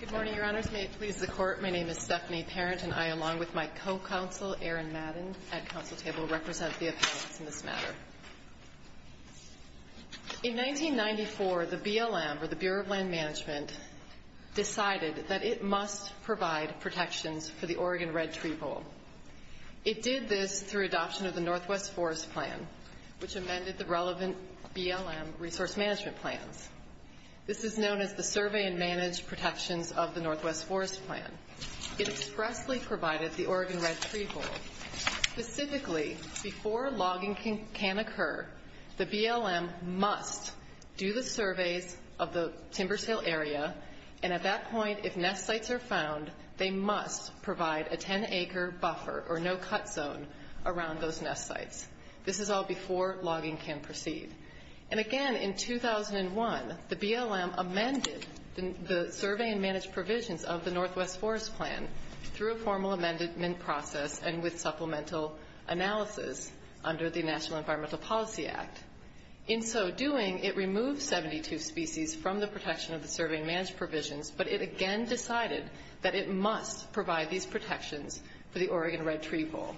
Good morning, Your Honors. May it please the Court, my name is Stephanie Parent, and I, along with my co-counsel, Aaron Madden, at Council Table, represent the appellants in this matter. In 1994, the BLM, or the Bureau of Land Management, decided that it must provide protections for the Oregon Red Tree Bowl. It did this through adoption of the Northwest Forest Plan, which amended the relevant BLM resource management plans. This is known as the Survey and Managed Protections of the Northwest Forest Plan. It expressly provided the Oregon Red Tree Bowl. Specifically, before logging can occur, the BLM must do the surveys of the timber sale area, and at that point, if nest sites are found, they must provide a 10-acre buffer, or no-cut zone, around those nest sites. This is all before logging can proceed. And again, in 2001, the BLM amended the Survey and Managed Provisions of the Northwest Forest Plan through a formal amendment process and with supplemental analysis under the National Environmental Policy Act. In so doing, it removed 72 species from the protection of the Survey and Managed Provisions, but it again decided that it must provide these protections for the Oregon Red Tree Bowl.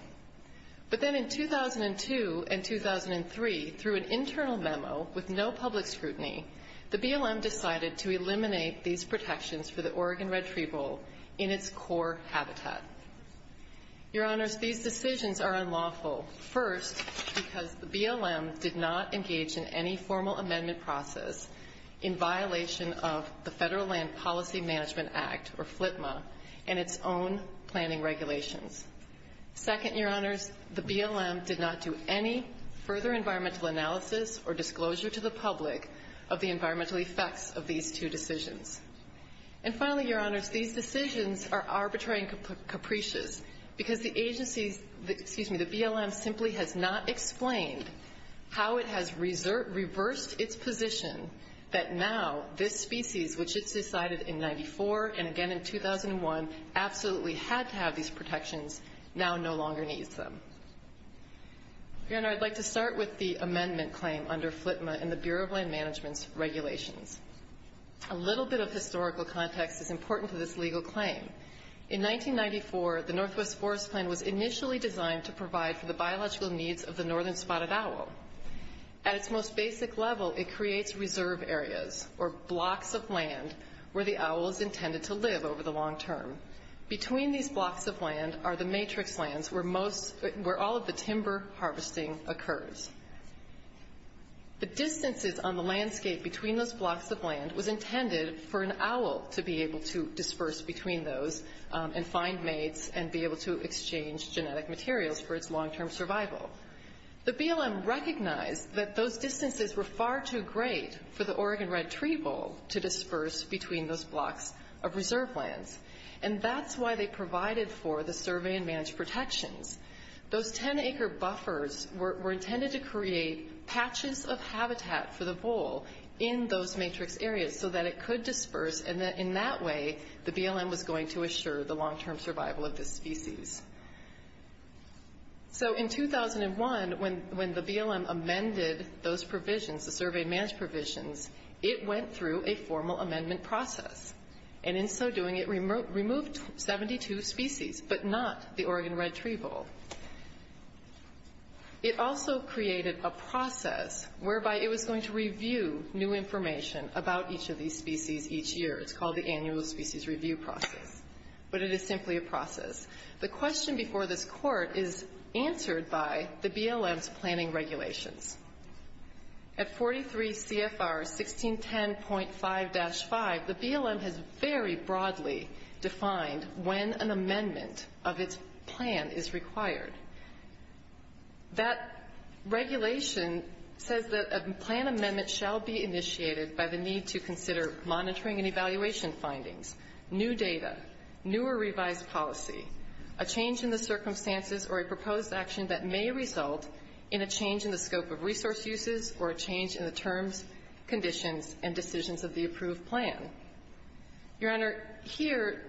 But then in 2002 and 2003, through an internal memo with no public scrutiny, the BLM decided to eliminate these protections for the Oregon Red Tree Bowl in its core habitat. Your Honors, these decisions are unlawful, first, because the BLM did not engage in any formal amendment process in violation of the Federal Land Policy Management Act, or FLPMA, and its own planning regulations. Second, Your Honors, the BLM did not do any further environmental analysis or disclosure to the public of the environmental effects of these two decisions. And finally, Your Honors, these decisions are arbitrary and capricious, because the BLM simply has not explained how it has reversed its position that now this species, which it decided in 1994 and again in 2001, absolutely had to have these protections, now no longer needs them. Your Honor, I'd like to start with the amendment claim under FLPMA and the Bureau of Land Management's regulations. A little bit of historical context is important to this legal claim. In 1994, the Northwest Forest Plan was initially designed to provide for the biological needs of the northern spotted owl. At its most basic level, it creates reserve areas, or blocks of land, where the owl is intended to live over the long term. Between these blocks of land are the matrix lands where all of the timber harvesting occurs. The distances on the landscape between those blocks of land was intended for an owl to be able to disperse between those and find mates and be able to exchange genetic materials for its long-term survival. The BLM recognized that those distances were far too great for the Oregon red tree bull to disperse between those blocks of reserve lands. And that's why they provided for the survey and managed protections. Those 10-acre buffers were intended to create patches of habitat for the bull in those matrix areas so that it could disperse and that in that way the BLM was going to assure the long-term survival of this species. So in 2001, when the BLM amended those provisions, the survey and managed provisions, it went through a formal amendment process. And in so doing, it removed 72 species, but not the Oregon red tree bull. It also created a process whereby it was going to review new information about each of these species each year. It's called the annual species review process. But it is simply a process. The question before this Court is answered by the BLM's planning regulations. At 43 CFR 1610.5-5, the BLM has very broadly defined when an amendment of its plan is required. That regulation says that a plan amendment shall be initiated by the need to consider monitoring and evaluation findings, new data, newer revised policy, a change in the circumstances, or a proposed action that may result in a change in the scope of resource uses or a change in the terms, conditions, and decisions of the approved plan. Your Honor, here,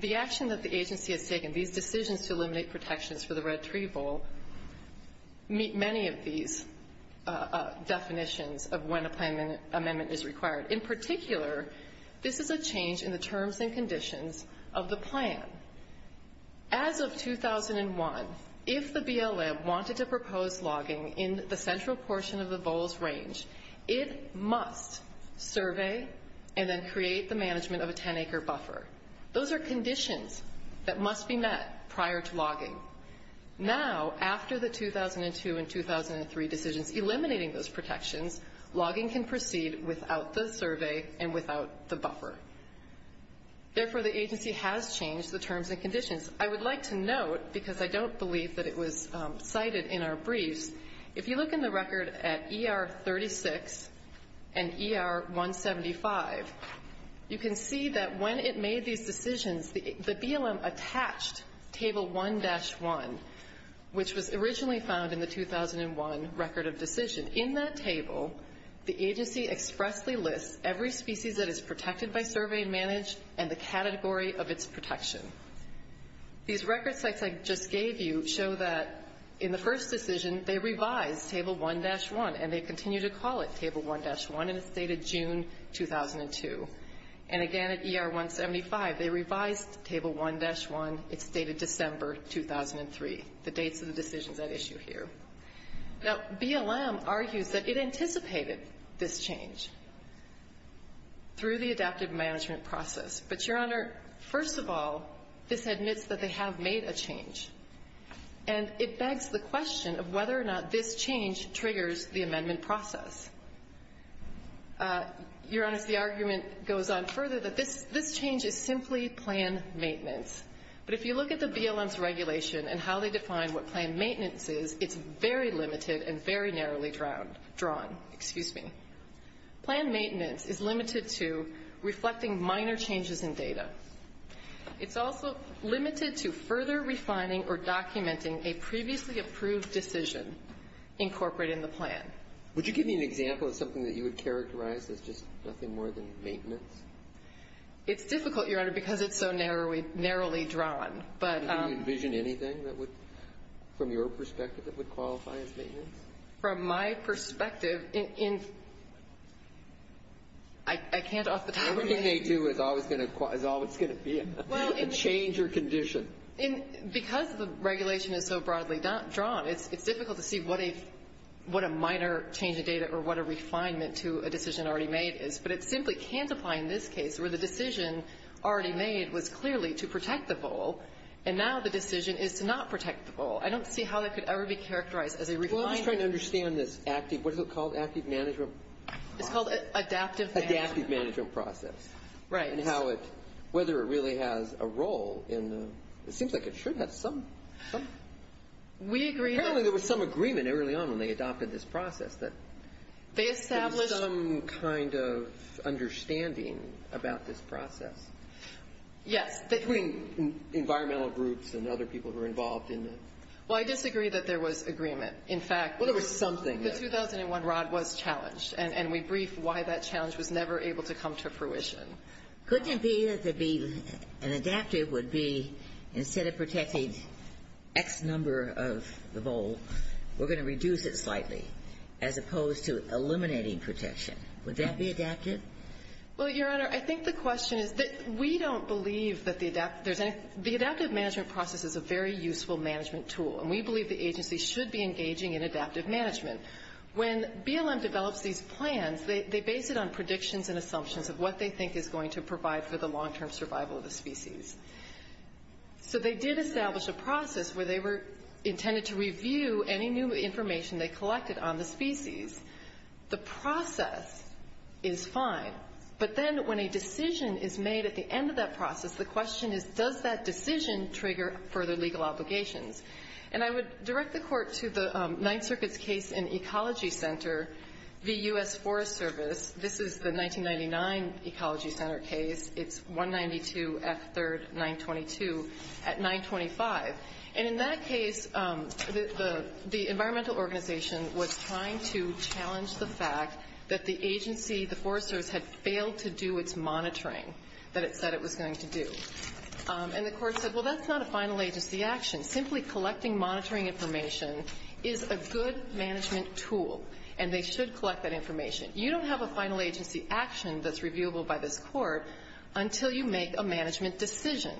the action that the agency has taken, these decisions to eliminate protections for the red tree bull, meet many of these definitions of when a plan amendment is required. In particular, this is a change in the terms and conditions of the plan. As of 2001, if the BLM wanted to propose logging in the central portion of the Bowles Range, it must survey and then create the management of a 10-acre buffer. Those are conditions that must be met prior to logging. Now, after the 2002 and 2003 decisions eliminating those protections, logging can proceed without the survey and without the buffer. Therefore, the agency has changed the terms and conditions. I would like to note, because I don't believe that it was cited in our briefs, if you look in the record at ER 36 and ER 175, you can see that when it made these decisions, the BLM attached Table 1-1, which was originally found in the 2001 record of decision. In that table, the agency expressly lists every species that is protected by survey and managed and the category of its protection. These record sites I just gave you show that in the first decision, they revised Table 1-1, and they continue to call it Table 1-1, and it's dated June 2002. And again at ER 175, they revised Table 1-1. It's dated December 2003, the dates of the decisions at issue here. Now, BLM argues that it anticipated this change through the adaptive management process. But, Your Honor, first of all, this admits that they have made a change, and it begs the question of whether or not this change triggers the amendment process. Your Honor, the argument goes on further that this change is simply plan maintenance. But if you look at the BLM's regulation and how they define what plan maintenance is, it's very limited and very narrowly drawn. Excuse me. Plan maintenance is limited to reflecting minor changes in data. It's also limited to further refining or documenting a previously approved decision incorporated in the plan. Would you give me an example of something that you would characterize as just nothing more than maintenance? It's difficult, Your Honor, because it's so narrowly drawn. Do you envision anything that would, from your perspective, that would qualify as maintenance? From my perspective, I can't off the top of my head. Everything they do is always going to be a change or condition. Because the regulation is so broadly drawn, it's difficult to see what a minor change in data or what a refinement to a decision already made is. But it simply can't apply in this case, where the decision already made was clearly to protect the goal, and now the decision is to not protect the goal. I don't see how that could ever be characterized as a refinement. Well, I'm just trying to understand this active, what is it called, active management? It's called adaptive management. Adaptive management process. Right. And how it, whether it really has a role in the, it seems like it should have some. We agree. Apparently there was some agreement early on when they adopted this process that there was some kind of understanding about this process. Yes. Between environmental groups and other people who were involved in it. Well, I disagree that there was agreement. In fact, the 2001 R.O.D. was challenged. And we briefed why that challenge was never able to come to fruition. Couldn't it be that an adaptive would be instead of protecting X number of the goal, we're going to reduce it slightly, as opposed to eliminating protection? Would that be adaptive? Well, Your Honor, I think the question is that we don't believe that the adaptive there's any, the adaptive management process is a very useful management tool. And we believe the agency should be engaging in adaptive management. When BLM develops these plans, they base it on predictions and assumptions of what they think is going to provide for the long-term survival of the species. So they did establish a process where they were intended to review any new information they collected on the species. The process is fine. But then when a decision is made at the end of that process, the question is does that decision trigger further legal obligations? And I would direct the Court to the Ninth Circuit's case in Ecology Center v. U.S. Forest Service. This is the 1999 Ecology Center case. It's 192 F. 3rd 922 at 925. And in that case, the environmental organization was trying to challenge the fact that the agency, the foresters, had failed to do its monitoring that it said it was going to do. And the Court said, well, that's not a final agency action. Simply collecting monitoring information is a good management tool, and they should collect that information. You don't have a final agency action that's reviewable by this Court until you make a management decision.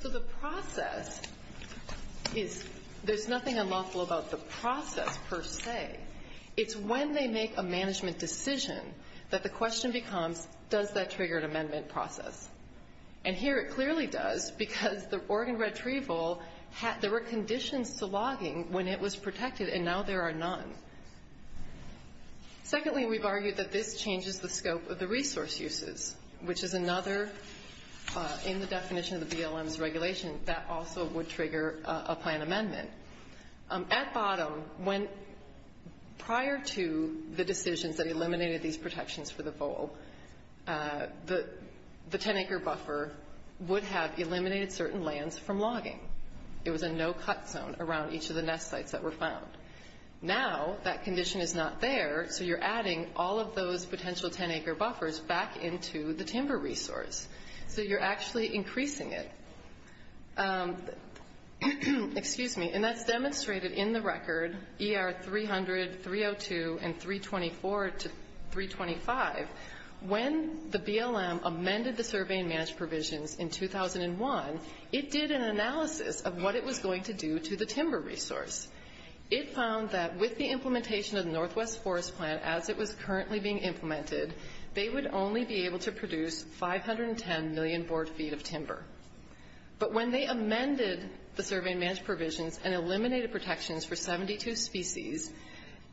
So the process is, there's nothing unlawful about the process per se. It's when they make a management decision that the question becomes, does that trigger an amendment process? And here it clearly does, because the Oregon Red Tree Vole, there were conditions to logging when it was protected, and now there are none. Secondly, we've argued that this changes the scope of the resource uses, which is another, in the definition of the BLM's regulation, that also would trigger a plan amendment. At bottom, when prior to the decisions that eliminated these protections for the vole, the 10-acre buffer would have eliminated certain lands from logging. It was a no-cut zone around each of the nest sites that were found. Now that condition is not there, so you're adding all of those potential 10-acre buffers back into the timber resource. So you're actually increasing it. Excuse me. And that's demonstrated in the record, ER 300, 302, and 324 to 325. When the BLM amended the survey and managed provisions in 2001, it did an analysis of what it was going to do to the timber resource. It found that with the implementation of the Northwest Forest Plan, as it was currently being implemented, they would only be able to produce 510 million board feet of timber. But when they amended the survey and managed provisions and eliminated protections for 72 species,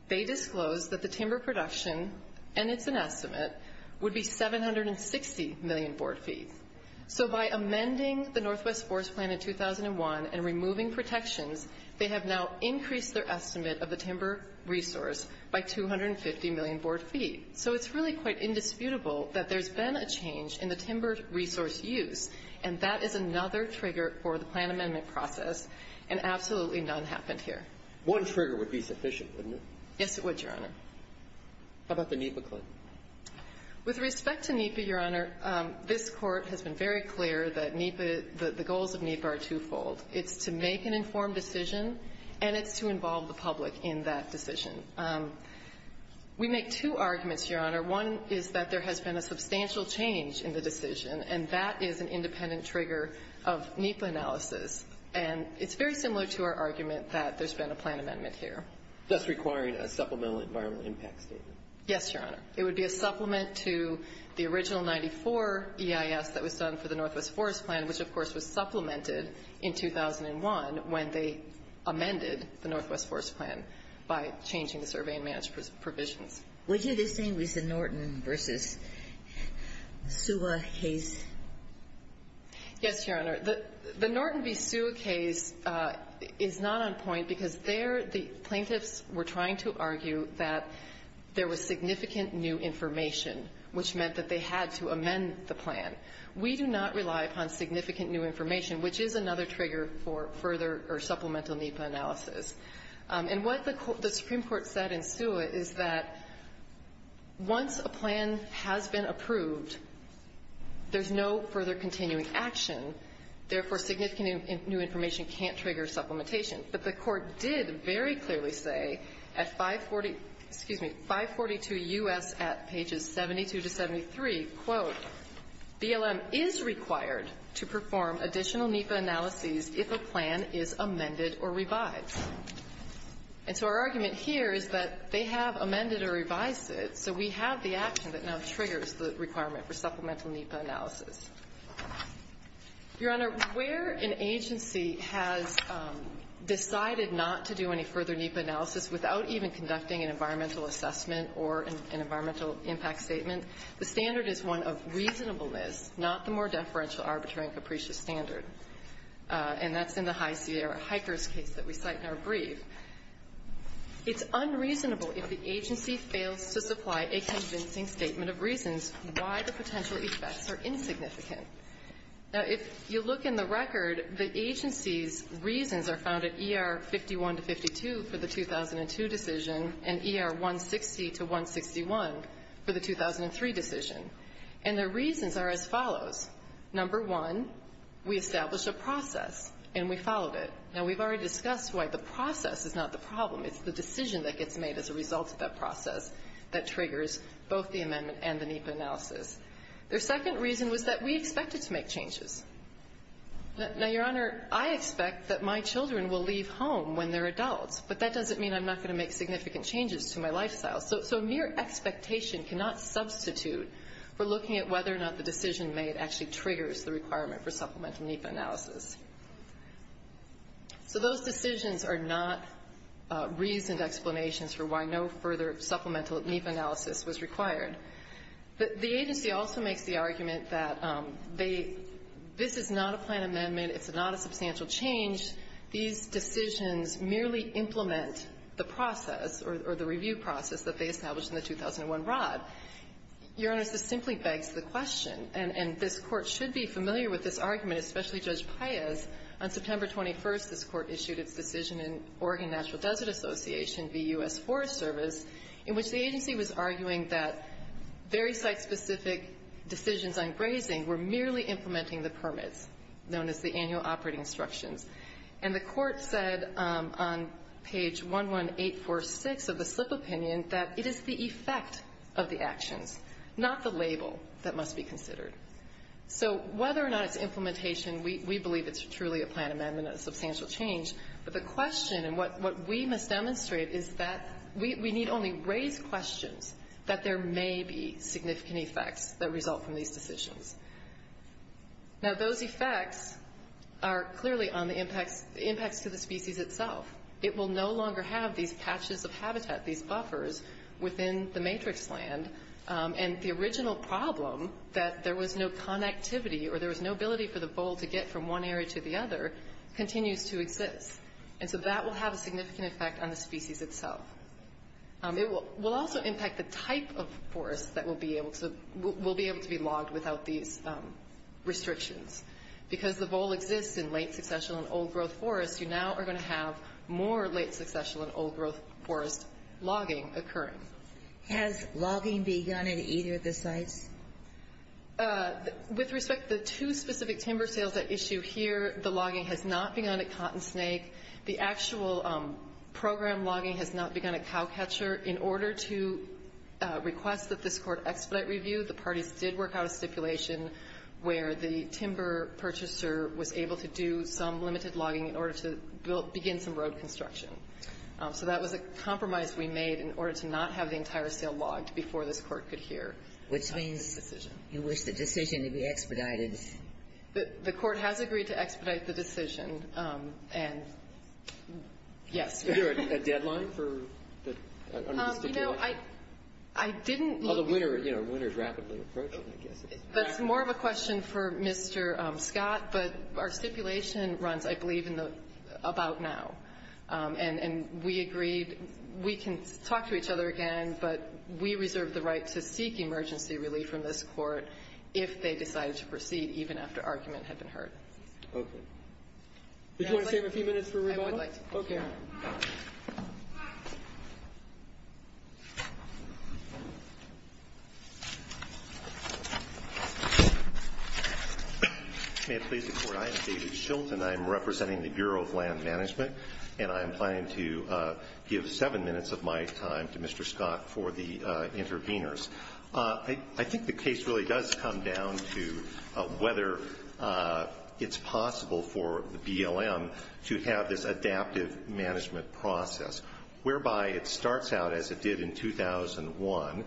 they disclosed that the timber production, and it's an estimate, would be 760 million board feet. So by amending the Northwest Forest Plan in 2001 and removing protections, they have now increased their estimate of the timber resource by 250 million board feet. So it's really quite indisputable that there's been a change in the timber resource use, and that is another trigger for the plan amendment process, and absolutely none happened here. One trigger would be sufficient, wouldn't it? Yes, it would, Your Honor. How about the NEPA claim? With respect to NEPA, Your Honor, this Court has been very clear that NEPA, the goals of NEPA are twofold. It's to make an informed decision, and it's to involve the public in that decision. We make two arguments, Your Honor. One is that there has been a substantial change in the decision, and that is an independent trigger of NEPA analysis. And it's very similar to our argument that there's been a plan amendment here. That's requiring a supplemental environmental impact statement. Yes, Your Honor. It would be a supplement to the original 94 EIS that was done for the Northwest Forest Plan, which, of course, was supplemented in 2001 when they amended the Northwest Forest Plan by changing the survey and managed provisions. Would you distinguish the Norton v. Suha case? Yes, Your Honor. The Norton v. Suha case is not on point because there the plaintiffs were trying to argue that there was significant new information, which meant that they had to amend the plan. We do not rely upon significant new information, which is another trigger for further or supplemental NEPA analysis. And what the Supreme Court said in Suha is that once a plan has been approved, there's no further continuing action. Therefore, significant new information can't trigger supplementation. But the Court did very clearly say at 540 — excuse me, 542 U.S. at pages 72 to 73, quote, And so our argument here is that they have amended or revised it, so we have the action that now triggers the requirement for supplemental NEPA analysis. Your Honor, where an agency has decided not to do any further NEPA analysis without even conducting an environmental assessment or an environmental impact statement, the standard is one of reasonableness, not the more deferential, arbitrary, and capricious standard. And that's in the High Sierra hikers case that we cite in our brief. It's unreasonable if the agency fails to supply a convincing statement of reasons why the potential effects are insignificant. Now, if you look in the record, the agency's reasons are found at ER 51 to 52 for the And their reasons are as follows. Number one, we established a process and we followed it. Now, we've already discussed why the process is not the problem. It's the decision that gets made as a result of that process that triggers both the amendment and the NEPA analysis. Their second reason was that we expected to make changes. Now, Your Honor, I expect that my children will leave home when they're adults, but that doesn't mean I'm not going to make significant changes to my lifestyle. So mere expectation cannot substitute for looking at whether or not the decision made actually triggers the requirement for supplemental NEPA analysis. So those decisions are not reasoned explanations for why no further supplemental NEPA analysis was required. The agency also makes the argument that this is not a plan amendment, it's not a substantial change. These decisions merely implement the process or the review process that they established in the 2001 rod. Your Honor, this simply begs the question, and this Court should be familiar with this argument, especially Judge Paez. On September 21st, this Court issued its decision in Oregon Natural Desert Association v. U.S. Forest Service, in which the agency was arguing that very site-specific decisions on grazing were merely implementing the permits, known as the annual operating instructions. And the Court said on page 11846 of the slip opinion that it is the effect of the actions, not the label that must be considered. So whether or not it's implementation, we believe it's truly a plan amendment, a substantial change. But the question, and what we must demonstrate, is that we need only raise questions that there may be significant effects that result from these decisions. Now, those effects are clearly on the impacts to the species itself. It will no longer have these patches of habitat, these buffers, within the matrix land. And the original problem, that there was no connectivity or there was no ability for the vole to get from one area to the other, continues to exist. And so that will have a significant effect on the species itself. It will also impact the type of forest that will be able to be logged without these restrictions. Because the vole exists in late-successional and old-growth forests, you now are going to have more late-successional and old-growth forest logging occurring. Has logging begun at either of the sites? With respect to the two specific timber sales at issue here, the logging has not begun at Cotton Snake. The actual program logging has not begun at Cowcatcher. In order to request that this Court expedite review, the parties did work out a stipulation where the timber purchaser was able to do some limited logging in order to begin some road construction. So that was a compromise we made in order to not have the entire sale logged before this Court could hear. Which means you wish the decision to be expedited? The Court has agreed to expedite the decision, and yes. Is there a deadline for the stipulation? You know, I didn't look for it. Well, the winter is rapidly approaching, I guess. That's more of a question for Mr. Scott, but our stipulation runs, I believe, about now. And we agreed we can talk to each other again, but we reserve the right to seek emergency relief from this Court if they decide to proceed, even after argument had been heard. Okay. Did you want to save a few minutes for rebuttal? I would like to. Okay. May it please the Court, I am David Shilton. I am representing the Bureau of Land Management. And I am planning to give seven minutes of my time to Mr. Scott for the interveners. I think the case really does come down to whether it's possible for the BLM to have this adaptive management process, whereby it starts out, as it did in 2001,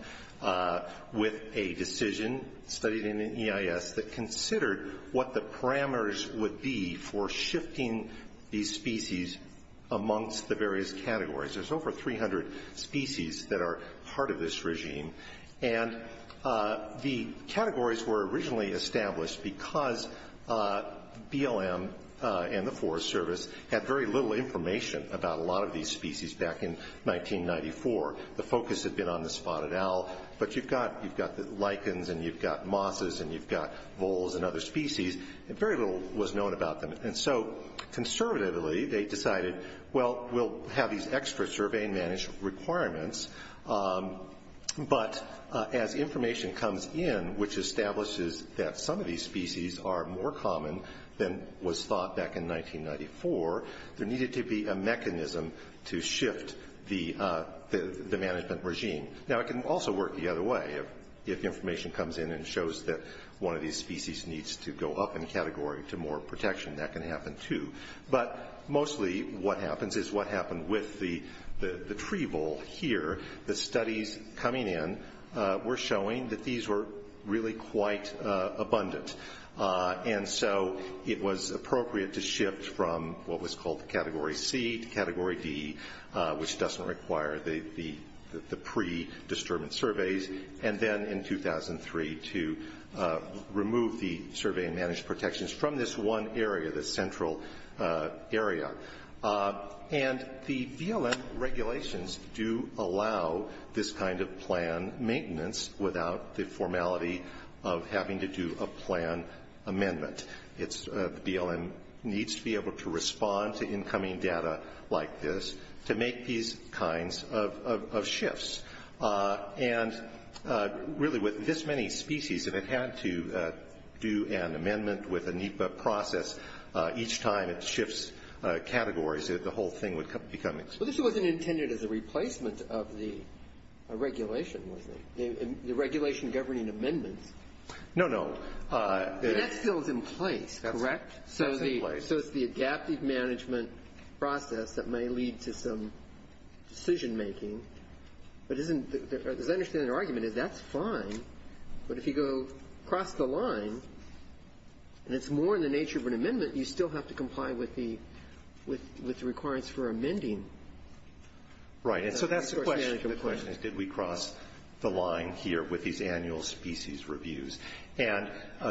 with a decision studied in the EIS that considered what the parameters would be for shifting these species amongst the various categories. There's over 300 species that are part of this regime. And the categories were originally established because BLM and the Forest Service had very little information about a lot of these species back in 1994. The focus had been on the spotted owl. But you've got the lichens, and you've got mosses, and you've got voles and other species. And very little was known about them. And so, conservatively, they decided, well, we'll have these extra survey and management requirements. But as information comes in, which establishes that some of these species are more common than was thought back in 1994, there needed to be a mechanism to shift the management regime. Now, it can also work the other way. If information comes in and shows that one of these species needs to go up in category to more protection, that can happen too. But mostly what happens is what happened with the tree vole here. The studies coming in were showing that these were really quite abundant. And so it was appropriate to shift from what was called the Category C to Category D, which doesn't require the pre-disturbance surveys. And then, in 2003, to remove the survey and managed protections from this one area, this central area. And the BLM regulations do allow this kind of plan maintenance without the formality of having to do a plan amendment. The BLM needs to be able to respond to incoming data like this to make these kinds of shifts. And really, with this many species, if it had to do an amendment with a NEPA process each time it shifts categories, the whole thing would become expensive. Well, this wasn't intended as a replacement of the regulation, was it? The regulation governing amendments? No, no. That still is in place, correct? That's in place. Okay, so it's the adaptive management process that may lead to some decision making. But as I understand the argument, that's fine. But if you go across the line, and it's more in the nature of an amendment, you still have to comply with the requirements for amending. Right, and so that's the question. The question is, did we cross the line here with these annual species reviews? And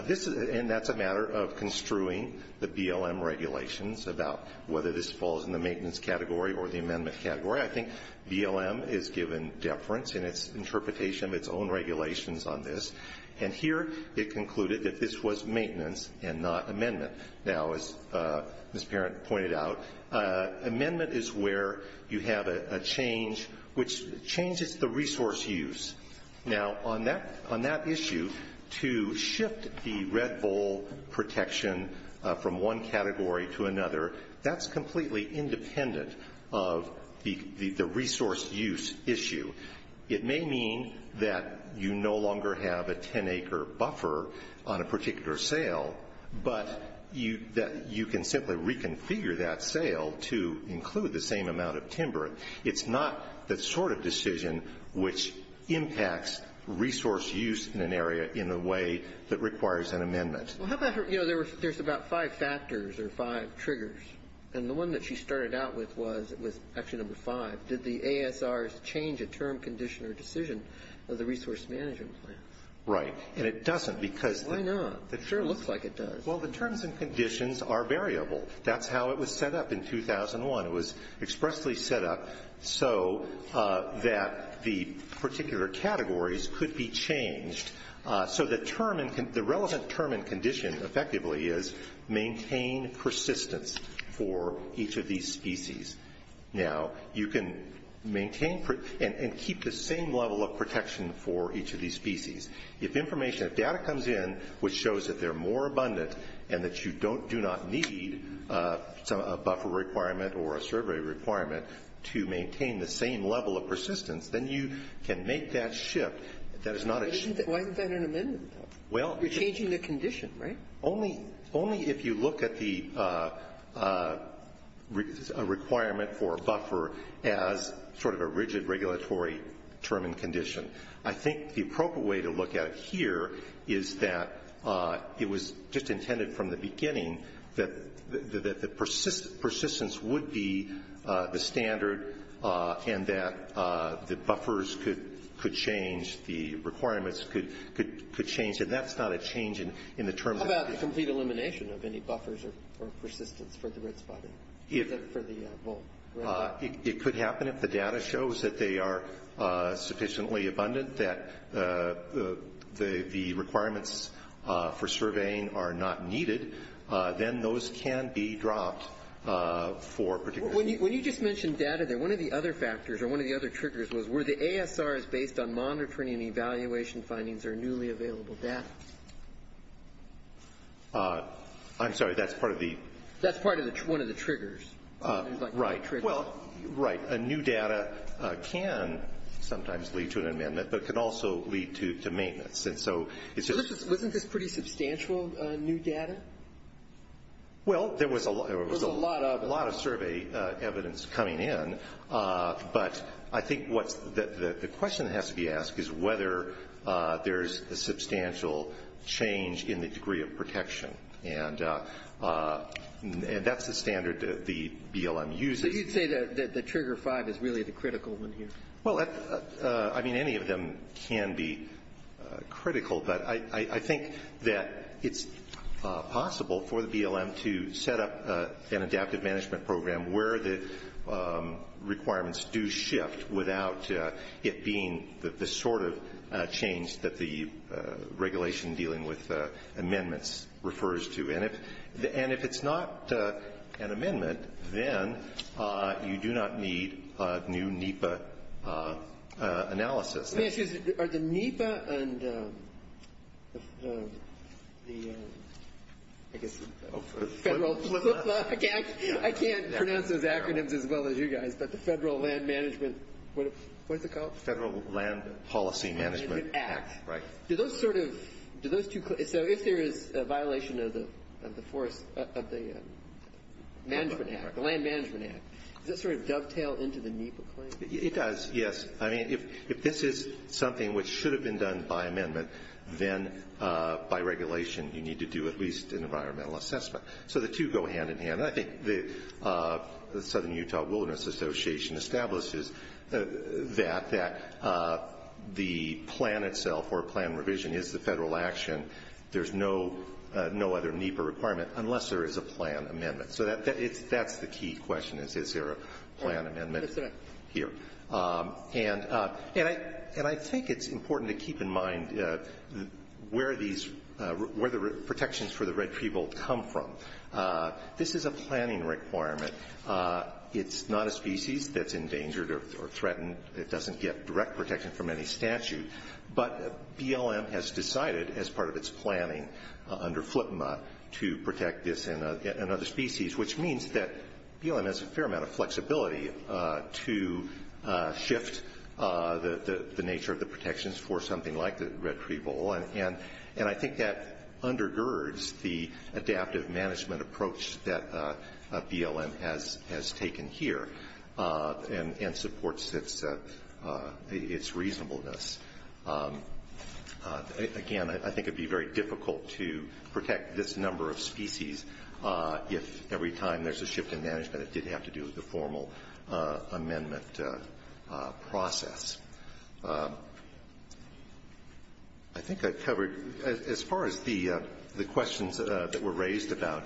that's a matter of construing the BLM regulations about whether this falls in the maintenance category or the amendment category. I think BLM is given deference in its interpretation of its own regulations on this. And here it concluded that this was maintenance and not amendment. Now, as Ms. Parent pointed out, amendment is where you have a change which changes the resource use. Now, on that issue, to shift the Red Bull protection from one category to another, that's completely independent of the resource use issue. It may mean that you no longer have a 10-acre buffer on a particular sale, but you can simply reconfigure that sale to include the same amount of timber. It's not the sort of decision which impacts resource use in an area in the way that requires an amendment. Well, how about, you know, there's about five factors or five triggers. And the one that she started out with was actually number five. Did the ASRs change a term, condition, or decision of the resource management plan? Right. And it doesn't because the terms and conditions are variable. That's how it was set up in 2001. It was expressly set up so that the particular categories could be changed. So the relevant term and condition, effectively, is maintain persistence for each of these species. Now, you can maintain and keep the same level of protection for each of these species. If information, if data comes in which shows that they're more abundant and that you don't do not need a buffer requirement or a survey requirement to maintain the same level of persistence, then you can make that shift. That is not a shift. Why isn't that an amendment, though? Well. You're changing the condition, right? Only if you look at the requirement for a buffer as sort of a rigid regulatory term and condition. I think the appropriate way to look at it here is that it was just intended from the beginning that the persistence would be the standard and that the buffers could change. The requirements could change. And that's not a change in the terms and conditions. How about a complete elimination of any buffers or persistence for the red spotted? For the bull? It could happen if the data shows that they are sufficiently abundant, that the requirements for surveying are not needed, then those can be dropped for particular. When you just mentioned data there, one of the other factors or one of the other triggers was were the ASRs based on monitoring and evaluation findings or newly available data? I'm sorry, that's part of the... That's part of one of the triggers. Right. Well, right. A new data can sometimes lead to an amendment, but can also lead to maintenance. And so it's just... Wasn't this pretty substantial new data? Well, there was a lot... There was a lot of... A lot of survey evidence coming in. But I think the question that has to be asked is whether there's a substantial change in the degree of protection. And that's the standard the BLM uses. So you'd say that Trigger 5 is really the critical one here? Well, I mean, any of them can be critical, but I think that it's possible for the BLM to set up an adaptive management program where the requirements do shift without it being the sort of change that the regulation dealing with amendments refers to. And if it's not an amendment, then you do not need new NEPA analysis. Excuse me. Are the NEPA and the, I guess, Federal... Flip that. I can't pronounce those acronyms as well as you guys, but the Federal Land Management... What is it called? Federal Land Policy Management. Land Management Act. Right. Do those sort of... So if there is a violation of the forest... Of the Land Management Act, does that sort of dovetail into the NEPA claim? It does, yes. I mean, if this is something which should have been done by amendment, then by regulation you need to do at least an environmental assessment. So the two go hand in hand. And I think the Southern Utah Wilderness Association establishes that the plan itself or plan revision is the federal action. There's no other NEPA requirement unless there is a plan amendment. So that's the key question is, is there a plan amendment here? That's right. And I think it's important to keep in mind where the protections for the red people come from. This is a planning requirement. It's not a species that's endangered or threatened. It doesn't get direct protection from any statute. But BLM has decided as part of its planning under FLPMA to protect this and other species, which means that BLM has a fair amount of flexibility to shift the nature of the protections for something like the red people. And I think that undergirds the adaptive management approach that BLM has taken here and supports its reasonableness. Again, I think it would be very difficult to protect this number of species if every time there's a shift in management it did have to do with the formal amendment process. I think I've covered, as far as the questions that were raised about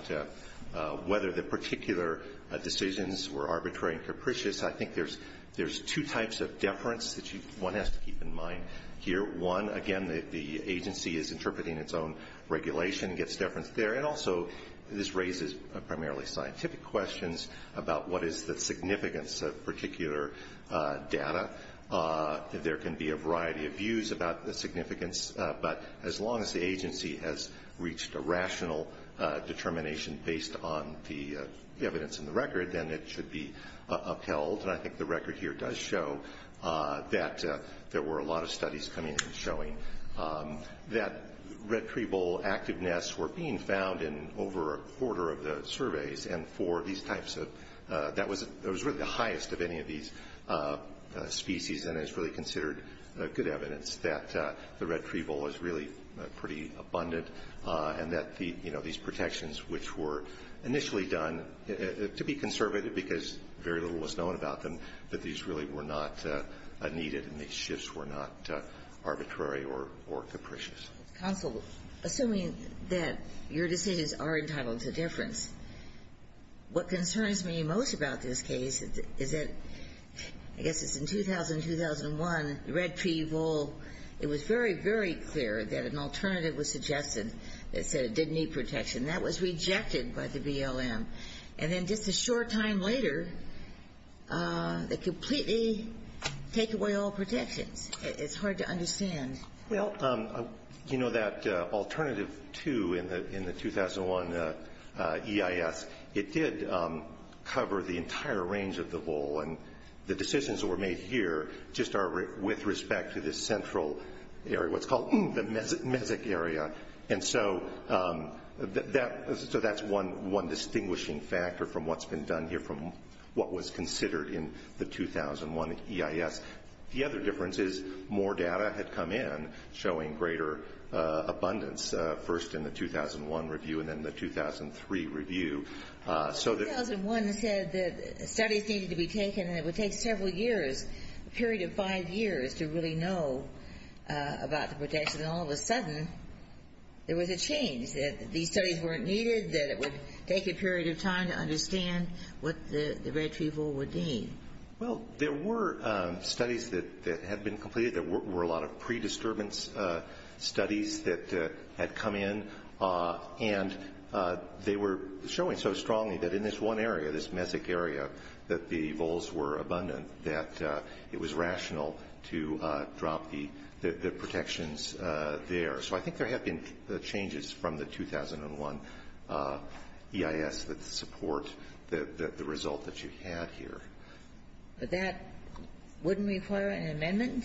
whether the particular decisions were arbitrary and capricious, I think there's two types of deference that one has to keep in mind here. One, again, the agency is interpreting its own regulation, gets deference there. And also, this raises primarily scientific questions about what is the significance of particular data. There can be a variety of views about the significance, but as long as the agency has reached a rational determination based on the evidence in the record, then it should be upheld. And I think the record here does show that there were a lot of studies coming in showing that red tree bull active nests were being found in over a quarter of the surveys. And for these types of – that was really the highest of any of these species, and it's really considered good evidence that the red tree bull is really pretty abundant, and that these protections, which were initially done to be conservative because very little was known about them, that these really were not needed and these shifts were not arbitrary or capricious. Counsel, assuming that your decisions are entitled to deference, what concerns me most about this case is that I guess it's in 2000, 2001, the red tree bull, it was very, very clear that an alternative was suggested that said it didn't need protection. That was rejected by the BLM. And then just a short time later, they completely take away all protections. It's hard to understand. Well, you know that alternative two in the 2001 EIS, it did cover the entire range of the bull, and the decisions that were made here just are with respect to this central area, what's called the Mesic area. And so that's one distinguishing factor from what's been done here, from what was considered in the 2001 EIS. The other difference is more data had come in showing greater abundance, first in the 2001 review and then the 2003 review. 2001 said that studies needed to be taken, and it would take several years, a period of five years, to really know about the protection. And all of a sudden, there was a change, that these studies weren't needed, that it would take a period of time to understand what the red tree bull would mean. Well, there were studies that had been completed. There were a lot of pre-disturbance studies that had come in, and they were showing so strongly that in this one area, this Mesic area, that the bulls were abundant, that it was rational to drop the protections there. So I think there have been changes from the 2001 EIS that support the result that you had here. But that wouldn't require an amendment?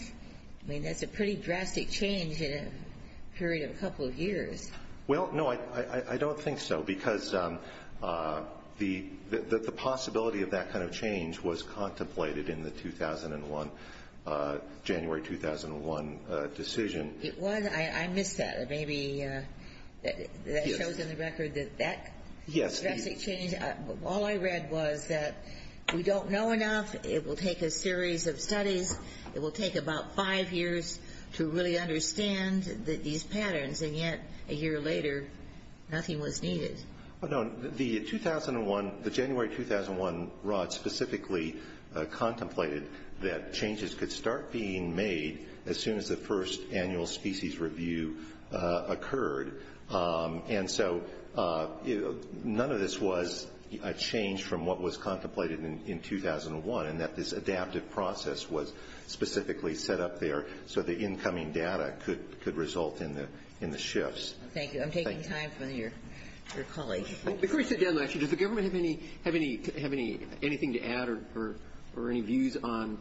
I mean, that's a pretty drastic change in a period of a couple of years. Well, no, I don't think so, because the possibility of that kind of change was contemplated in the 2001, January 2001 decision. It was? I missed that. Maybe that shows in the record that that drastic change, all I read was that we don't know enough, it will take a series of studies, it will take about five years to really understand these patterns, and yet, a year later, nothing was needed. Well, no, the 2001, the January 2001 rod specifically contemplated that changes could start being made as soon as the first annual species review occurred. And so none of this was a change from what was contemplated in 2001, and that this adaptive process was specifically set up there so the incoming data could result in the shifts. Thank you. I'm taking time from your colleagues. Before we sit down, actually, does the government have anything to add or any views on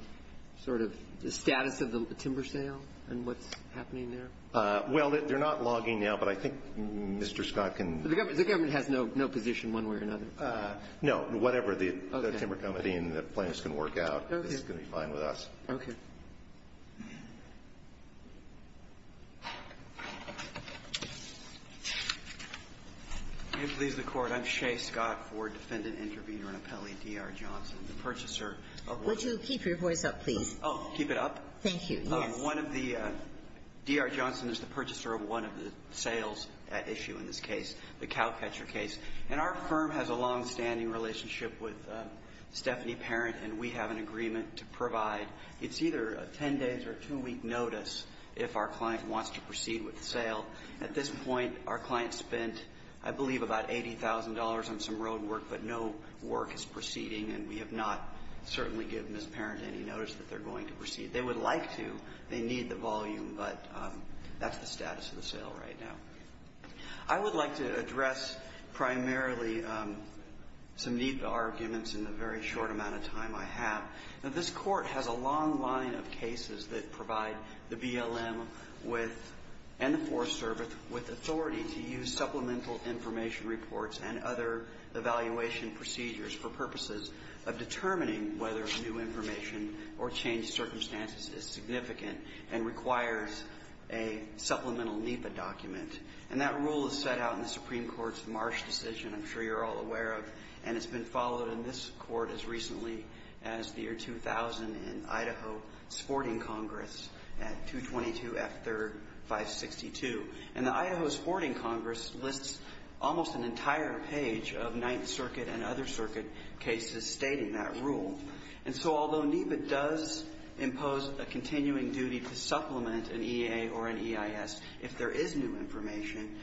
sort of the status of the timber sale and what's happening there? Well, they're not logging now, but I think Mr. Scott can ---- The government has no position one way or another? No. Whatever the timber committee and the plaintiffs can work out is going to be fine with us. Okay. Can you please record? I'm Shea Scott, Ford Defendant Intervenor and Appellee, D.R. Johnson, the purchaser of ---- Would you keep your voice up, please? Oh, keep it up? Thank you. Yes. One of the ---- D.R. Johnson is the purchaser of one of the sales at issue in this case, the cowcatcher case. And our firm has a longstanding relationship with Stephanie Parent, and we have an agreement to provide it's either a ten-day or two-week notice if our client wants to proceed with the sale. At this point, our client spent, I believe, about $80,000 on some road work, but no work is proceeding, and we have not certainly given Ms. Parent any notice that they're going to proceed. They would like to. They need the volume, but that's the status of the sale right now. I would like to address primarily some NEPA arguments in the very short amount of time I have. Now, this Court has a long line of cases that provide the BLM with, and the Forest Service, with authority to use supplemental information reports and other evaluation procedures for purposes of determining whether new information or changed circumstances is significant and requires a supplemental NEPA document. And that rule is set out in the Supreme Court's Marsh decision, I'm sure you're all aware of, and it's been followed in this Court as recently as the year 2000 in Idaho Sporting Congress at 222 F. 3rd, 562. And the Idaho Sporting Congress lists almost an entire page of Ninth Circuit and other circuit cases stating that rule. And so although NEPA does impose a continuing duty to supplement an EA or an EIS if there is new information,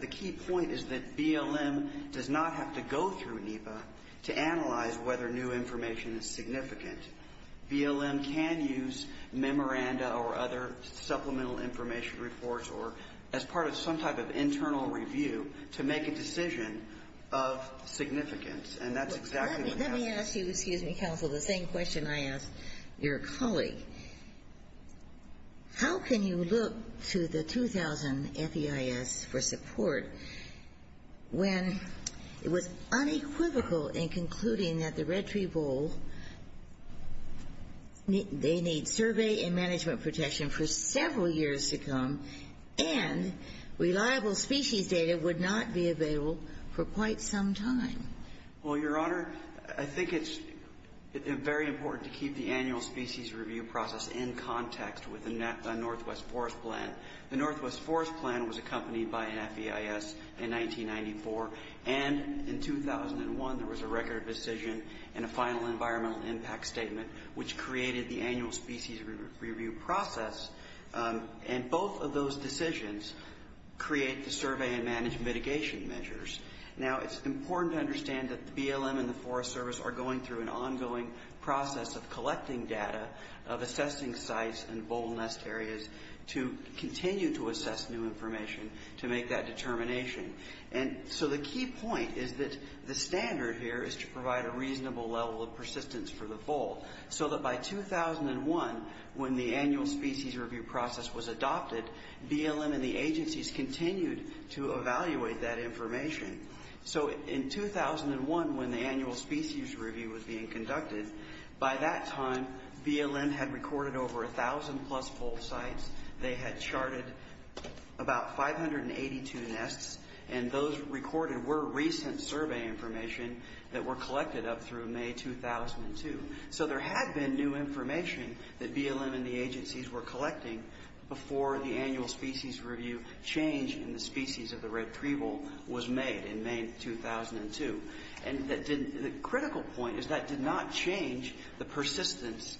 the key point is that BLM does not have to go through NEPA to analyze whether new information is significant. BLM can use memoranda or other supplemental information reports or as part of some type of internal review to make a decision of significance. And that's exactly what happened. The same question I asked your colleague. How can you look to the 2000 FEIS for support when it was unequivocal in concluding that the Red Tree Bowl, they need survey and management protection for several years to come and reliable species data would not be available for quite some time? Well, your Honor, I think it's very important to keep the annual species review process in context with the Northwest Forest Plan. The Northwest Forest Plan was accompanied by an FEIS in 1994, and in 2001 there was a record decision and a final environmental impact statement which created the annual species review process. And both of those decisions create the survey and management mitigation measures. Now, it's important to understand that BLM and the Forest Service are going through an ongoing process of collecting data, of assessing sites and bowl nest areas to continue to assess new information to make that determination. And so the key point is that the standard here is to provide a reasonable level of persistence for the bowl so that by 2001, when the annual species review process was adopted, BLM and the agencies continued to evaluate that information. So in 2001, when the annual species review was being conducted, by that time BLM had recorded over 1,000-plus bowl sites. They had charted about 582 nests, and those recorded were recent survey information that were collected up through May 2002. So there had been new information that BLM and the agencies were collecting before the annual species review change in the species of the red tree bowl was made in May 2002. And the critical point is that did not change the persistence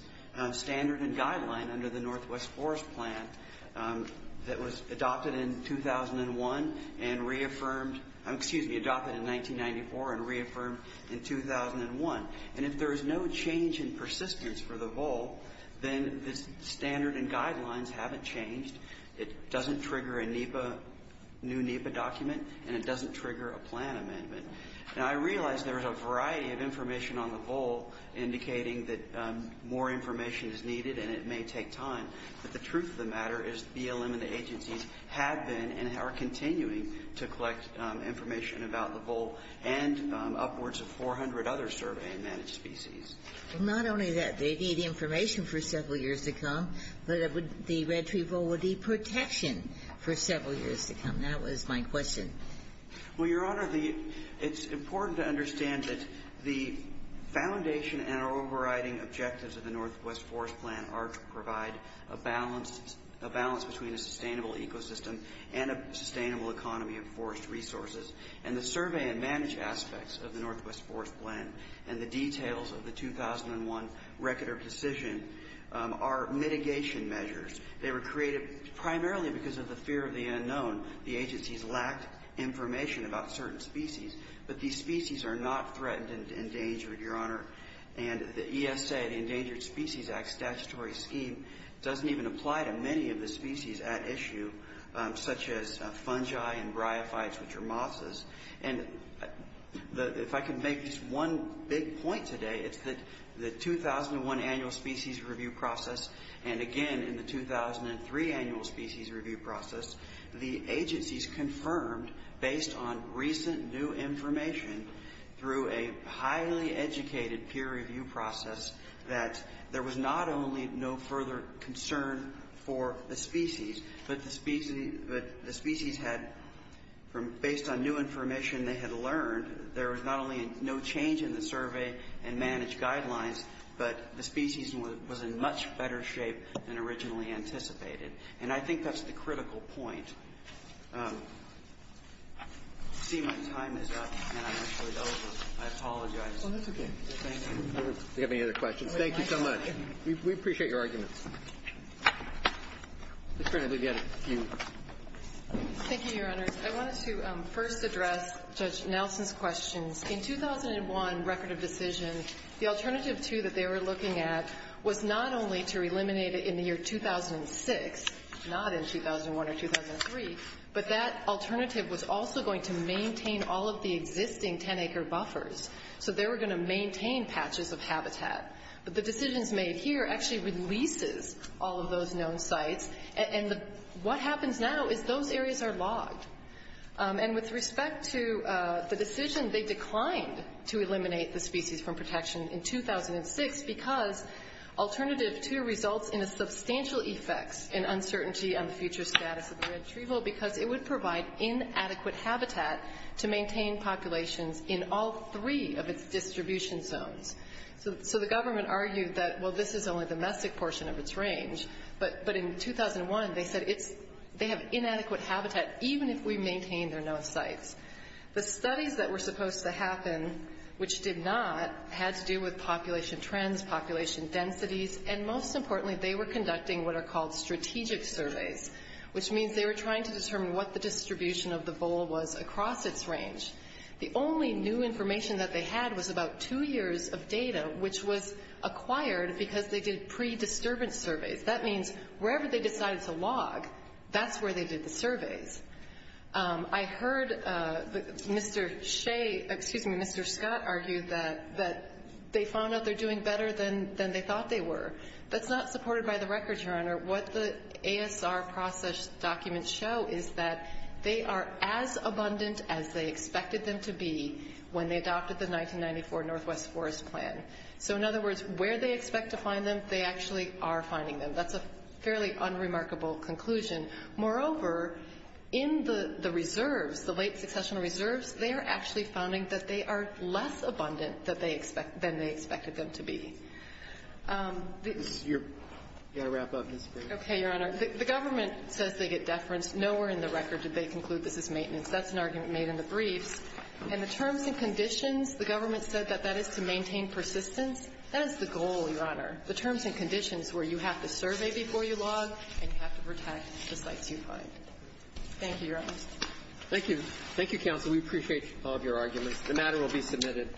standard and guideline under the Northwest Forest Plan that was adopted in 2001 and reaffirmed, excuse me, adopted in 1994 and reaffirmed in 2001. And if there is no change in persistence for the bowl, then the standard and guidelines haven't changed. It doesn't trigger a new NEPA document, and it doesn't trigger a plan amendment. Now I realize there is a variety of information on the bowl indicating that more information is needed and it may take time, but the truth of the matter is BLM and the agencies have been and are continuing to collect information about the bowl and upwards of 400 other survey and managed species. Well, not only that. They need information for several years to come, but the red tree bowl would need protection for several years to come. That was my question. Well, Your Honor, it's important to understand that the foundation and our overriding objectives of the Northwest Forest Plan are to provide a balance between a sustainable ecosystem and a sustainable economy of forest resources. And the survey and managed aspects of the Northwest Forest Plan and the details of the 2001 record of decision are mitigation measures. They were created primarily because of the fear of the unknown. The agencies lacked information about certain species, but these species are not threatened and endangered, Your Honor. And the ESA, the Endangered Species Act statutory scheme, doesn't even apply to many of the species at issue, such as fungi and bryophytes, which are mosses. And if I can make just one big point today, it's that the 2001 annual species review process and, again, in the 2003 annual species review process, the agencies confirmed based on recent new information through a highly educated peer review process that there was not only no further concern for the species, but the species had, based on new information they had learned, there was not only no change in the survey and managed guidelines, but the species was in much better shape than originally anticipated. And I think that's the critical point. I see my time is up, and I'm actually over. I apologize. Oh, that's okay. Thank you. Do you have any other questions? Thank you so much. We appreciate your arguments. Ms. Brenner, we've got a few. Thank you, Your Honors. I wanted to first address Judge Nelson's questions. In 2001 record of decision, the alternative, too, that they were looking at was not only to eliminate it in the year 2006, not in 2001 or 2003, but that alternative was also going to maintain all of the existing 10-acre buffers. So they were going to maintain patches of habitat. But the decisions made here actually releases all of those known sites, and what happens now is those areas are logged. And with respect to the decision, they declined to eliminate the species from protection in 2006 because alternative, too, results in substantial effects and uncertainty on the future status of the retrieval because it would provide inadequate habitat to maintain populations in all three of its distribution zones. So the government argued that, well, this is only the domestic portion of its range, but in 2001 they said they have inadequate habitat even if we maintain their known sites. The studies that were supposed to happen, which did not, had to do with population trends, population densities, and most importantly they were conducting what are called strategic surveys, which means they were trying to determine what the distribution of the vole was across its range. The only new information that they had was about two years of data, which was acquired because they did pre-disturbance surveys. That means wherever they decided to log, that's where they did the surveys. I heard Mr. Shea, excuse me, Mr. Scott, argue that they found out they're doing better than they thought they were. That's not supported by the records, Your Honor. What the ASR process documents show is that they are as abundant as they expected them to be when they adopted the 1994 Northwest Forest Plan. So in other words, where they expect to find them, they actually are finding them. That's a fairly unremarkable conclusion. Moreover, in the reserves, the late successional reserves, they are actually finding that they are less abundant than they expected them to be. You've got to wrap up, Ms. Gray. Okay, Your Honor. The government says they get deference. Nowhere in the record did they conclude this is maintenance. That's an argument made in the briefs. And the terms and conditions, the government said that that is to maintain persistence. That is the goal, Your Honor, the terms and conditions where you have to survey before you log and you have to protect the sites you find. Thank you, Your Honor. Thank you. Thank you, counsel. We appreciate all of your arguments. The matter will be submitted.